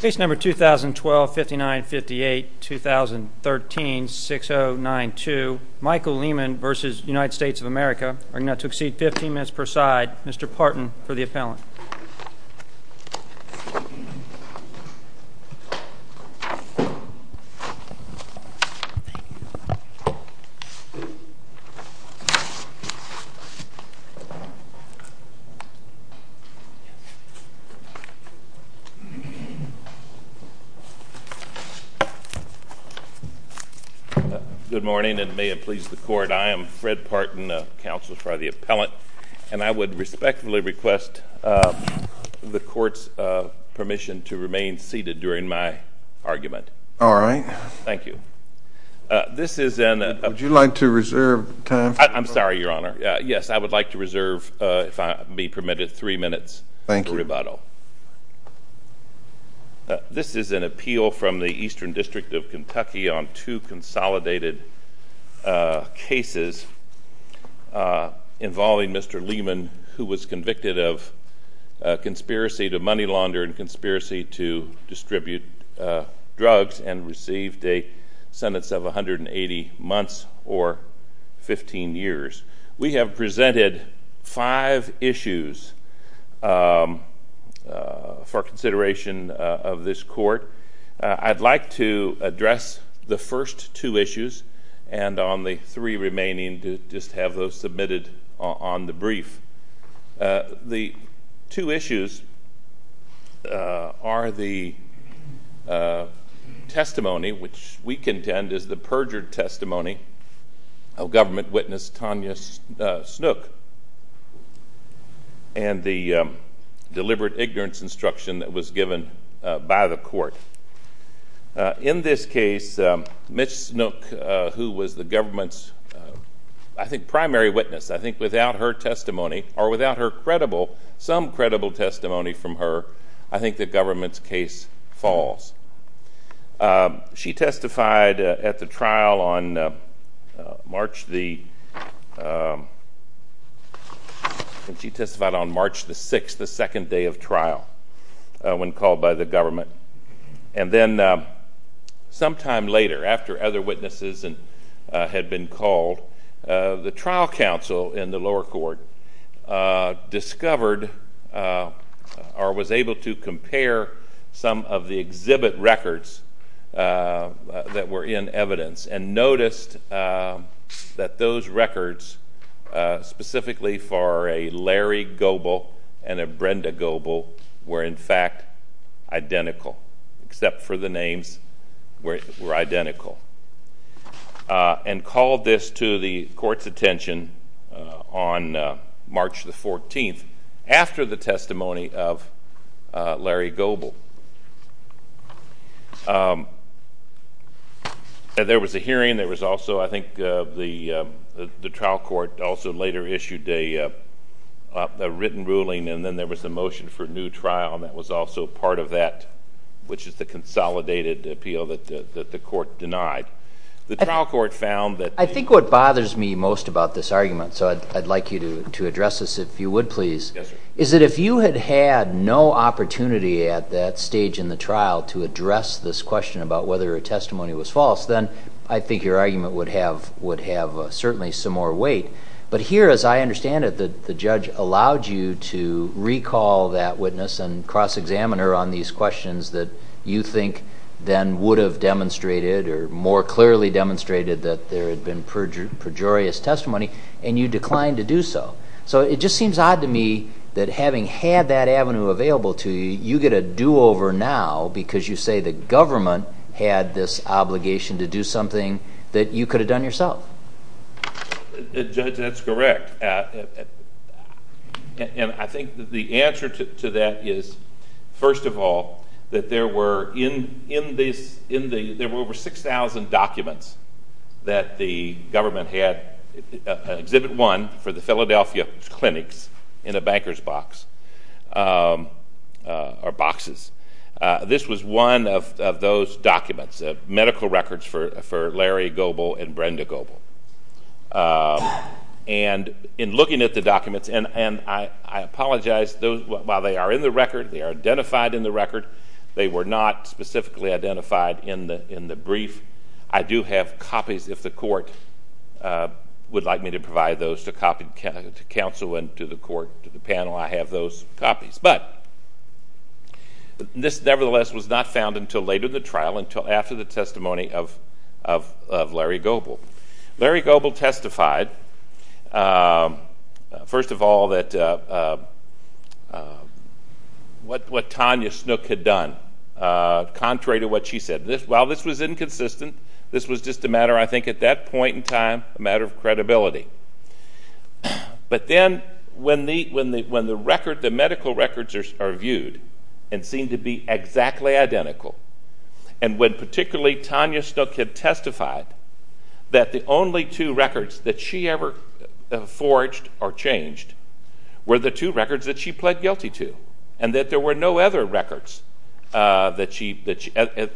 Case number 2012-5958-2013-6092. Michael Leman v. United States of America. Argument to exceed 15 minutes per side. Mr. Parton for the appellant. Good morning, and may it please the Court, I am Fred Parton, counsel for the appellant, and I would respectfully request the Court's permission to remain seated during my argument. All right. Thank you. This is an— Would you like to reserve time for— I'm sorry, Your Honor. Yes, I would like to reserve, if I may be permitted, three minutes for rebuttal. Thank you. This is an appeal from the Eastern District of Kentucky on two consolidated cases involving Mr. Leman, who was convicted of conspiracy to money launder and conspiracy to distribute drugs and received a sentence of 180 months or 15 years. We have presented five issues for consideration of this Court. I'd like to address the first two issues and on the three remaining, just have those submitted on the brief. The two issues are the testimony, which we contend is the perjured testimony of government witness, Tanya Snook, and the deliberate ignorance instruction that was given by the Court. In this case, Ms. Snook, who was the government's, I think, primary witness, I think without her testimony or without her credible, some credible testimony from her, I think the government's case falls. She testified at the trial on March the 6th, the second day of trial, when called by the government. And then sometime later, after other witnesses had been called, the trial counsel in the records that were in evidence and noticed that those records, specifically for a Larry Goebel and a Brenda Goebel, were in fact identical, except for the names were identical, and called this to the Court's attention on March the 14th, after the testimony of Larry Goebel. There was a hearing. There was also, I think, the trial court also later issued a written ruling, and then there was a motion for a new trial, and that was also part of that, which is the consolidated appeal that the Court denied. I think what bothers me most about this argument, so I'd like you to address this if you would please, is that if you had had no opportunity at that stage in the trial to address this question about whether a testimony was false, then I think your argument would have certainly some more weight. But here, as I understand it, the judge allowed you to recall that witness and cross-examiner on these questions that you think then would have demonstrated or more clearly demonstrated that there had been pejorious testimony, and you declined to do so. So, it just seems odd to me that having had that avenue available to you, you get a do-over now because you say the government had this obligation to do something that you could have done yourself. Judge, that's correct. And I think the answer to that is, first of all, that there were over 6,000 documents that the government had, Exhibit 1, for the Philadelphia clinics in a banker's box, or boxes. This was one of those documents, medical records for Larry Goebel and Brenda Goebel. And in looking at the documents, and I apologize, while they are in the record, they are identified in the record, they were not specifically identified in the brief. I do have copies if the court would like me to provide those to counsel and to the court, to the panel, I have those copies. But this, nevertheless, was not found until later in the trial, until after the testimony of Larry Goebel. Larry Goebel testified, first of all, what Tanya Snook had done, contrary to what she said. While this was inconsistent, this was just a matter, I think, at that point in time, a matter of credibility. But then, when the medical records are viewed and seem to be exactly identical, and when particularly Tanya Snook had testified that the only two records that she ever forged or changed were the two records that she pled guilty to, and that there were no other records that she,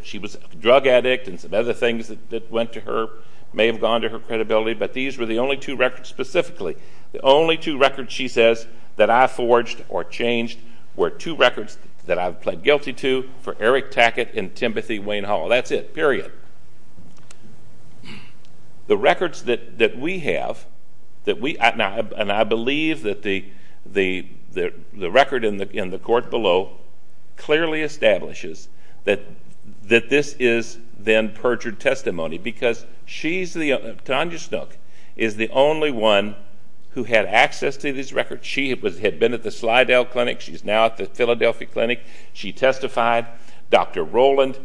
she was a drug addict and some other things that went to her, may have gone to her credibility, but these were the only two records specifically, the only two records, she says, that I forged or changed were two records that I pled guilty to for Eric Tackett and Timothy Wayne Hall. That's it, period. The records that we have, and I believe that the record in the court below clearly establishes that this is then perjured testimony, because Tanya Snook is the only one who had access to these records. She had been at the Slidell Clinic. She's now at the Philadelphia Clinic. She testified. Dr. Rowland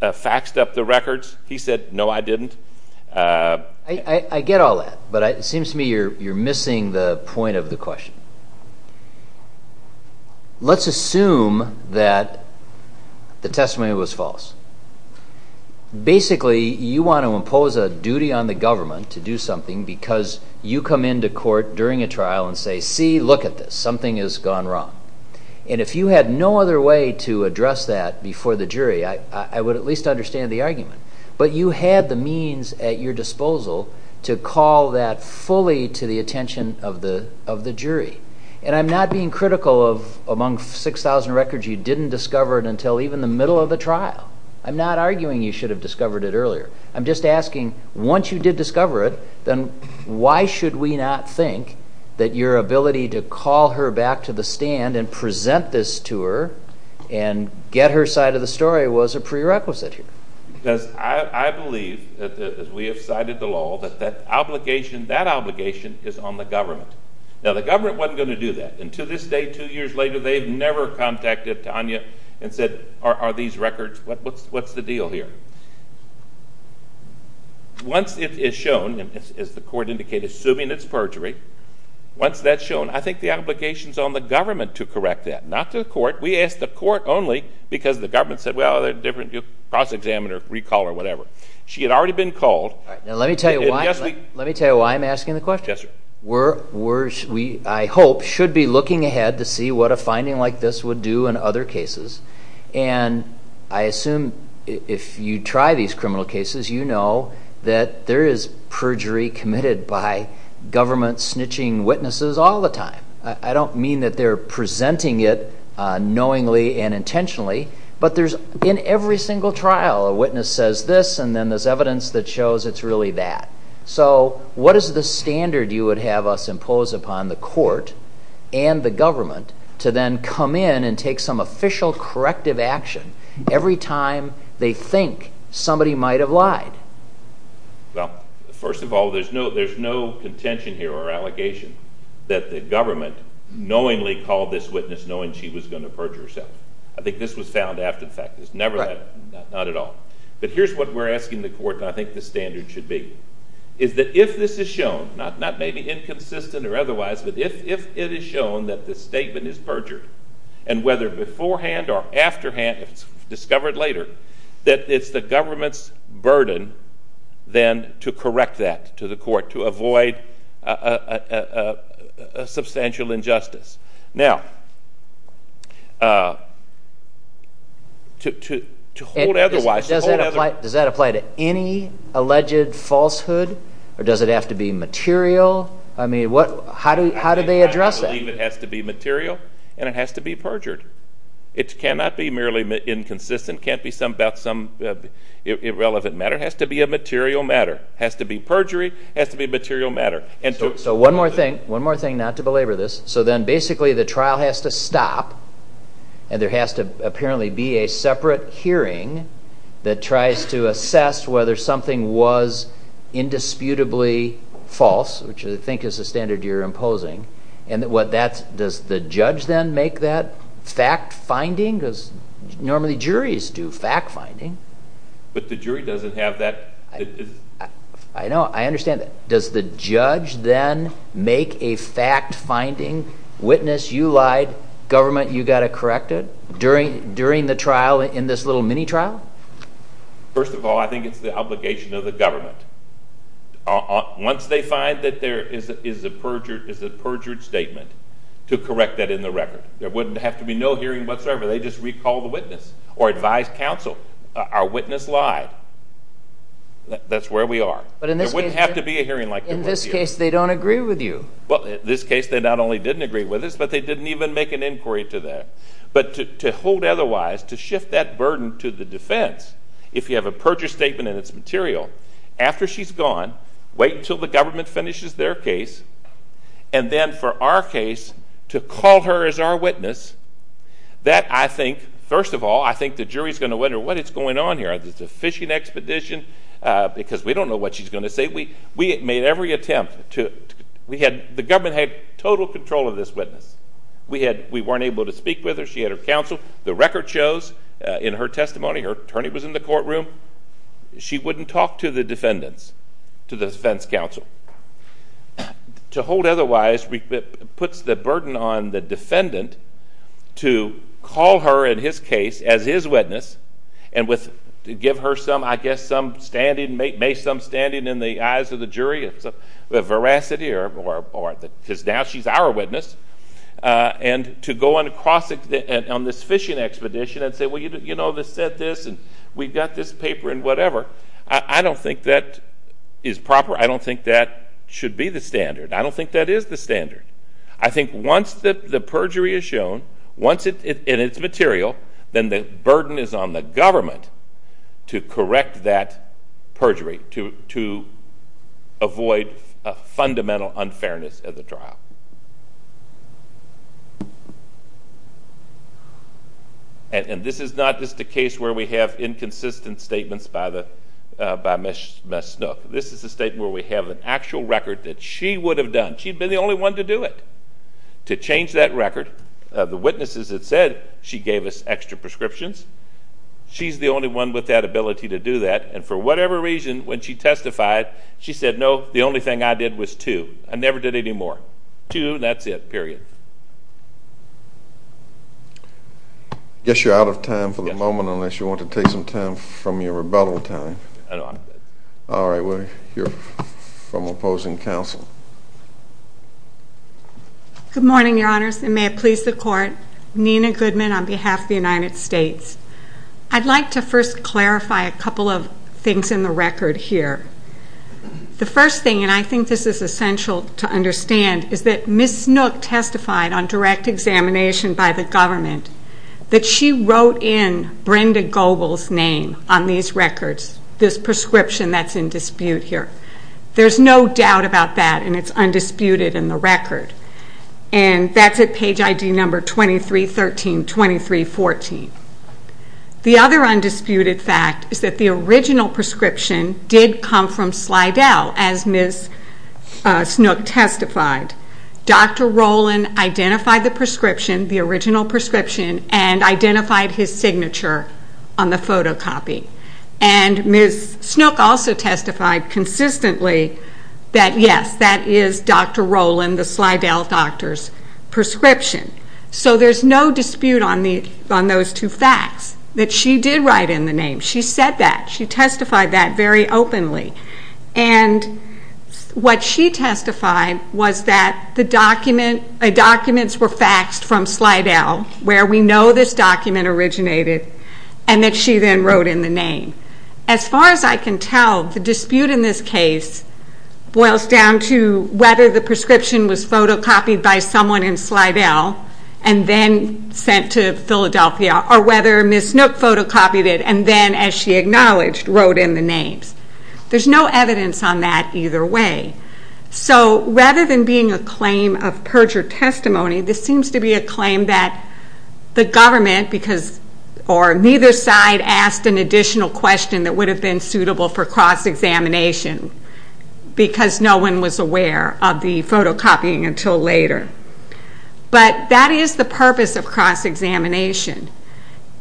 faxed up the records. He said, no, I didn't. I get all that, but it seems to me you're missing the point of the question. Let's assume that the testimony was false. Basically, you want to impose a duty on the government to do something because you come into court during a trial and say, see, look at this. Something has gone wrong. And if you had no other way to address that before the jury, I would at least understand the argument. But you had the means at your disposal to call that fully to the attention of the jury. And I'm not being critical of among 6,000 records you didn't discover it until even the middle of the trial. I'm not arguing you should have discovered it earlier. I'm just asking, once you did discover it, then why should we not think that your ability to call her back to the stand and present this to her and get her side of the story was a prerequisite here? Because I believe, as we have cited the law, that that obligation is on the government. Now, the government wasn't going to do that. And to this day, two years later, they've never contacted Tanya and said, what's the deal here? Once it is shown, as the court indicated, assuming it's perjury, once that's shown, I think the obligation is on the government to correct that, not the court. We asked the court only because the government said, well, there's a different process examiner recall or whatever. She had already been called. Let me tell you why I'm asking the question. Yes, sir. We, I hope, should be looking ahead to see what a finding like this would do in other cases. And I assume if you try these criminal cases, you know that there is perjury committed by government snitching witnesses all the time. I don't mean that they're presenting it knowingly and intentionally. But there's, in every single trial, a witness says this, and then there's evidence that shows it's really that. So what is the standard you would have us impose upon the court and the government to then come in and take some official corrective action every time they think somebody might have lied? Well, first of all, there's no contention here or allegation that the government knowingly called this witness knowing she was going to perjure herself. I think this was found after the fact. It's never been, not at all. But here's what we're asking the court, and I think the standard should be, is that if this is shown, not maybe inconsistent or otherwise, but if it is shown that the statement is perjury, and whether beforehand or afterhand, if it's discovered later, that it's the government's burden then to correct that to the court, to avoid a substantial injustice. Now, to hold otherwise, to hold other... Does that apply to any alleged falsehood, or does it have to be material? I mean, how do they address that? It has to be material, and it has to be perjured. It cannot be merely inconsistent. It can't be about some irrelevant matter. It has to be a material matter. It has to be perjury. It has to be a material matter. So one more thing, not to belabor this. So then basically the trial has to stop, and there has to apparently be a separate hearing that tries to assess whether something was indisputably false, which I think is the standard you're imposing, and what that's... Does the judge then make that fact-finding? Because normally juries do fact-finding. But the jury doesn't have that... I know. I understand. Does the judge then make a fact-finding, witness you lied, government you got it corrected, during the trial in this little mini-trial? First of all, I think it's the obligation of the government. Once they find that there is a perjured statement, to correct that in the record. There wouldn't have to be no hearing whatsoever. They just recall the witness or advise counsel. Our witness lied. That's where we are. But in this case... There wouldn't have to be a hearing like there was here. In this case, they don't agree with you. Well, in this case, they not only didn't agree with us, but they didn't even make an inquiry to that. But to hold otherwise, to shift that burden to the defense, if you have a perjured statement and it's material, after she's gone, wait until the government finishes their case, and then for our case, to call her as our witness, that I think... First of all, I think the jury is going to wonder what is going on here. Is this a fishing expedition? Because we don't know what she's going to say. We made every attempt to... The government had total control of this witness. We weren't able to speak with her. She had her counsel. The record shows, in her testimony, her attorney was in the courtroom. She wouldn't talk to the defendants, to the defense counsel. To hold otherwise puts the burden on the defendant to call her, in his case, as his witness, and to give her some, I guess, some standing, may some standing in the eyes of the jury of veracity, because now she's our witness, and to go on this fishing expedition and say, Well, you know, they said this, and we've got this paper, and whatever. I don't think that is proper. I don't think that should be the standard. I don't think that is the standard. I think once the perjury is shown, once it's material, then the burden is on the government to correct that perjury, to avoid a fundamental unfairness of the trial. And this is not just a case where we have inconsistent statements by Ms. Snook. This is a statement where we have an actual record that she would have done. She'd been the only one to do it, to change that record. The witnesses had said she gave us extra prescriptions. She's the only one with that ability to do that, and for whatever reason, when she testified, she said, No, the only thing I did was two. I never did any more. Two, that's it, period. I guess you're out of time for the moment, unless you want to take some time from your rebuttal time. I'm good. All right. We'll hear from opposing counsel. Good morning, Your Honors, and may it please the Court. Nina Goodman on behalf of the United States. I'd like to first clarify a couple of things in the record here. The first thing, and I think this is essential to understand, is that Ms. Snook testified on direct examination by the government that she wrote in Brenda Goebel's name on these records, this prescription that's in dispute here. There's no doubt about that, and it's undisputed in the record. And that's at page ID number 23132314. The other undisputed fact is that the original prescription did come from Slidell, as Ms. Snook testified. Dr. Rowland identified the prescription, the original prescription, and identified his signature on the photocopy. And Ms. Snook also testified consistently that, yes, that is Dr. Rowland, the Slidell doctor's prescription. So there's no dispute on those two facts, that she did write in the name. She said that. She testified that very openly. And what she testified was that the documents were faxed from Slidell, where we know this document originated, and that she then wrote in the name. As far as I can tell, the dispute in this case boils down to whether the prescription was photocopied by someone in Slidell and then sent to Philadelphia, or whether Ms. Snook photocopied it and then, as she acknowledged, wrote in the names. There's no evidence on that either way. So rather than being a claim of perjured testimony, this seems to be a claim that the government, or neither side, asked an additional question that would have been suitable for cross-examination because no one was aware of the photocopying until later. But that is the purpose of cross-examination.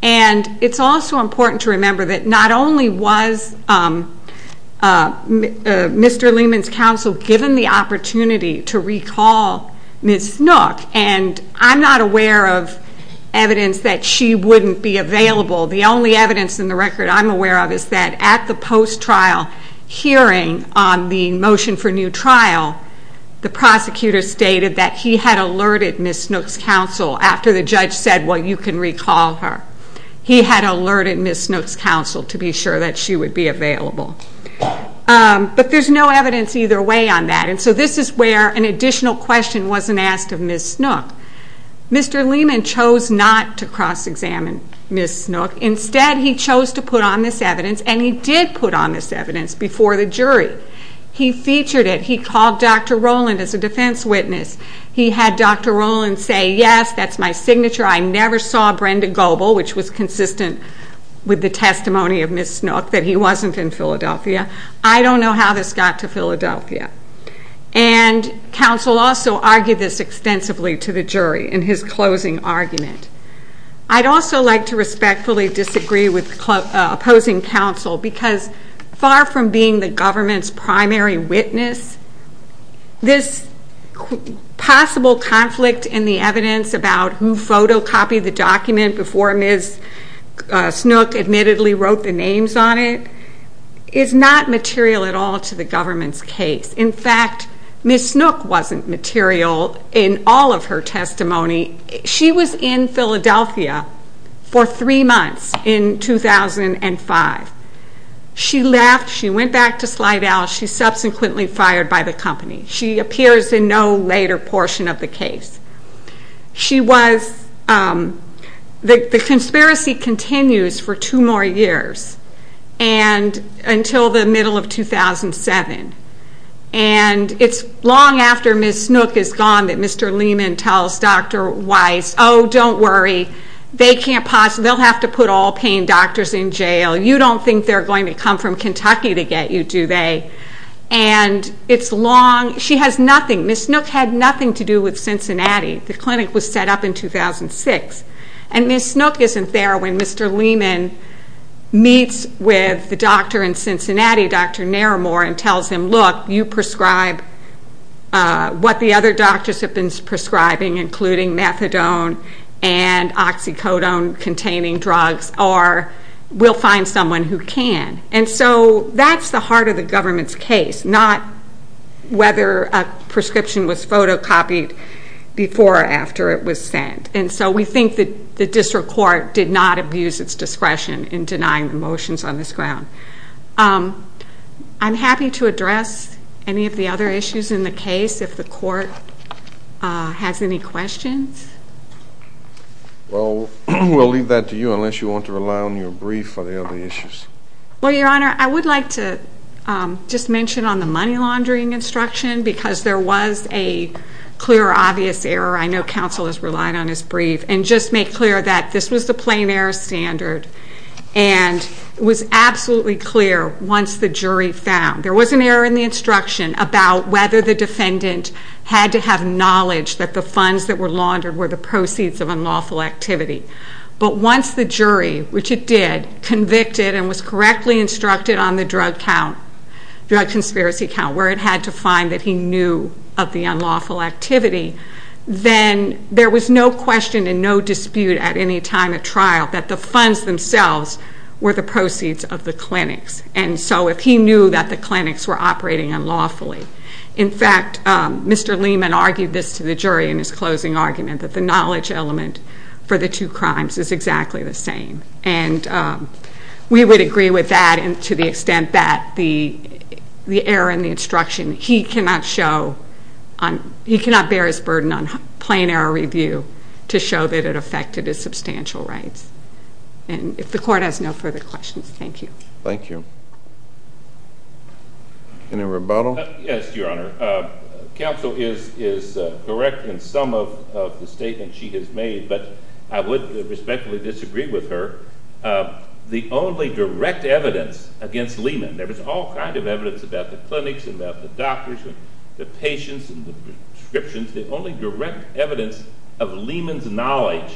And it's also important to remember that not only was Mr. Lehman's counsel given the opportunity to recall Ms. Snook, and I'm not aware of evidence that she wouldn't be available. The only evidence in the record I'm aware of is that at the post-trial hearing on the motion for new trial, the prosecutor stated that he had alerted Ms. Snook's counsel after the judge said, well, you can recall her. He had alerted Ms. Snook's counsel to be sure that she would be available. But there's no evidence either way on that, and so this is where an additional question wasn't asked of Ms. Snook. Mr. Lehman chose not to cross-examine Ms. Snook. Instead, he chose to put on this evidence, and he did put on this evidence before the jury. He featured it. He called Dr. Rowland as a defense witness. He had Dr. Rowland say, yes, that's my signature. I never saw Brenda Goble, which was consistent with the testimony of Ms. Snook, that he wasn't in Philadelphia. I don't know how this got to Philadelphia. And counsel also argued this extensively to the jury in his closing argument. I'd also like to respectfully disagree with opposing counsel because far from being the government's primary witness, this possible conflict in the evidence about who photocopied the document before Ms. Snook admittedly wrote the names on it is not material at all to the government's case. In fact, Ms. Snook wasn't material in all of her testimony. She was in Philadelphia for three months in 2005. She left. She went back to Slidell. She subsequently fired by the company. She appears in no later portion of the case. The conspiracy continues for two more years until the middle of 2007, and it's long after Ms. Snook is gone that Mr. Lehman tells Dr. Weiss, oh, don't worry, they'll have to put all pain doctors in jail. You don't think they're going to come from Kentucky to get you, do they? And it's long. She has nothing. Ms. Snook had nothing to do with Cincinnati. The clinic was set up in 2006, and Ms. Snook isn't there when Mr. Lehman meets with the doctor in Cincinnati, Dr. Naramore, and tells him, look, you prescribe what the other doctors have been prescribing, including methadone and oxycodone-containing drugs, or we'll find someone who can. And so that's the heart of the government's case, not whether a prescription was photocopied before or after it was sent. And so we think that the district court did not abuse its discretion in denying the motions on this ground. I'm happy to address any of the other issues in the case if the court has any questions. Well, we'll leave that to you unless you want to rely on your brief for the other issues. Well, Your Honor, I would like to just mention on the money laundering instruction because there was a clear, obvious error. I know counsel has relied on his brief. And just make clear that this was the plain-error standard, and it was absolutely clear once the jury found. There was an error in the instruction about whether the defendant had to have knowledge that the funds that were laundered were the proceeds of unlawful activity. But once the jury, which it did, convicted and was correctly instructed on the drug conspiracy count, where it had to find that he knew of the unlawful activity, then there was no question and no dispute at any time of trial that the funds themselves were the proceeds of the clinics. And so if he knew that the clinics were operating unlawfully. In fact, Mr. Lehman argued this to the jury in his closing argument, that the knowledge element for the two crimes is exactly the same. And we would agree with that to the extent that the error in the instruction, he cannot show, he cannot bear his burden on plain-error review to show that it affected his substantial rights. And if the court has no further questions, thank you. Thank you. Any rebuttal? Yes, Your Honor. Counsel is correct in some of the statements she has made, but I would respectfully disagree with her. The only direct evidence against Lehman, and there was all kinds of evidence about the clinics and about the doctors and the patients and the prescriptions, the only direct evidence of Lehman's knowledge,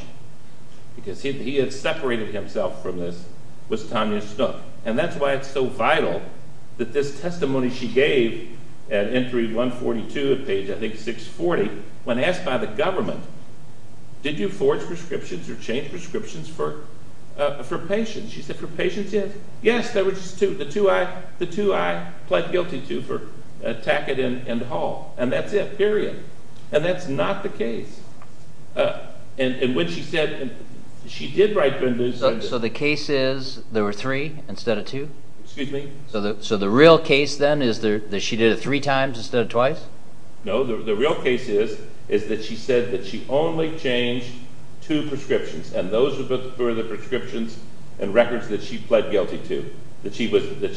because he had separated himself from this, was Tanya Snook. And that's why it's so vital that this testimony she gave at Entry 142 at page, I think, 640, when asked by the government, did you forge prescriptions or change prescriptions for patients? She said, for patients, yes. There were just two. The two I pled guilty to for Tackett and Hall. And that's it, period. And that's not the case. And when she said she did write Bindu. So the case is there were three instead of two? Excuse me? So the real case then is that she did it three times instead of twice? No. The real case is that she said that she only changed two prescriptions, and those were the prescriptions and records that she pled guilty to, that she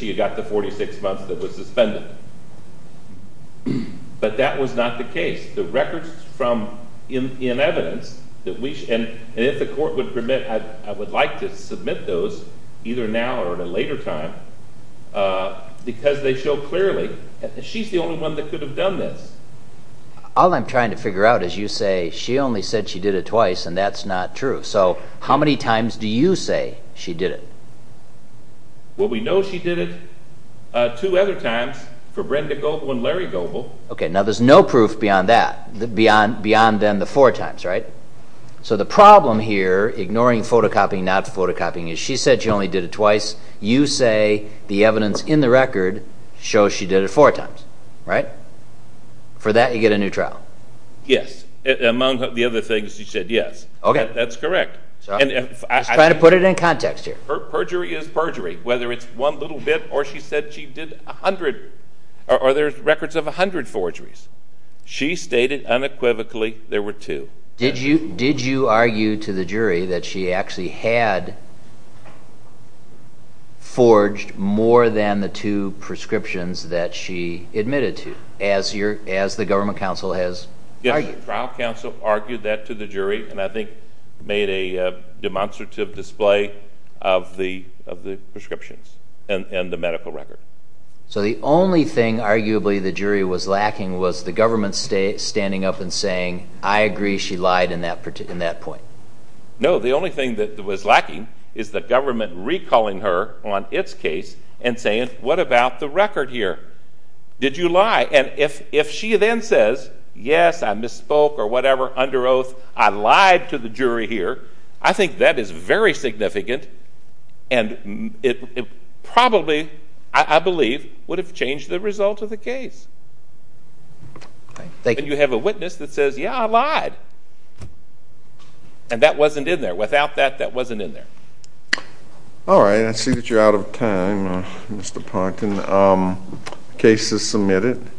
had got the 46 months that was suspended. But that was not the case. The records in evidence, and if the court would permit, I would like to submit those either now or at a later time, because they show clearly that she's the only one that could have done this. All I'm trying to figure out is you say she only said she did it twice, and that's not true. So how many times do you say she did it? Well, we know she did it two other times for Brenda Goldwyn and Larry Goble. Okay. Now there's no proof beyond that, beyond then the four times, right? So the problem here, ignoring photocopying, not photocopying, is she said she only did it twice. You say the evidence in the record shows she did it four times, right? For that you get a new trial. Yes. Among the other things, you said yes. Okay. That's correct. Just trying to put it in context here. Perjury is perjury, whether it's one little bit, or she said she did a hundred, or there's records of a hundred forgeries. She stated unequivocally there were two. Did you argue to the jury that she actually had forged more than the two prescriptions that she admitted to, as the government counsel has argued? Yes, the trial counsel argued that to the jury, and I think made a demonstrative display of the prescriptions and the medical record. So the only thing, arguably, the jury was lacking was the government standing up and saying, I agree she lied in that point. No, the only thing that was lacking is the government recalling her on its case and saying, what about the record here? Did you lie? And if she then says, yes, I misspoke or whatever under oath, I lied to the jury here, I think that is very significant and it probably, I believe, would have changed the result of the case. And you have a witness that says, yeah, I lied. And that wasn't in there. Without that, that wasn't in there. All right. I see that you're out of time, Mr. Ponton. Case is submitted.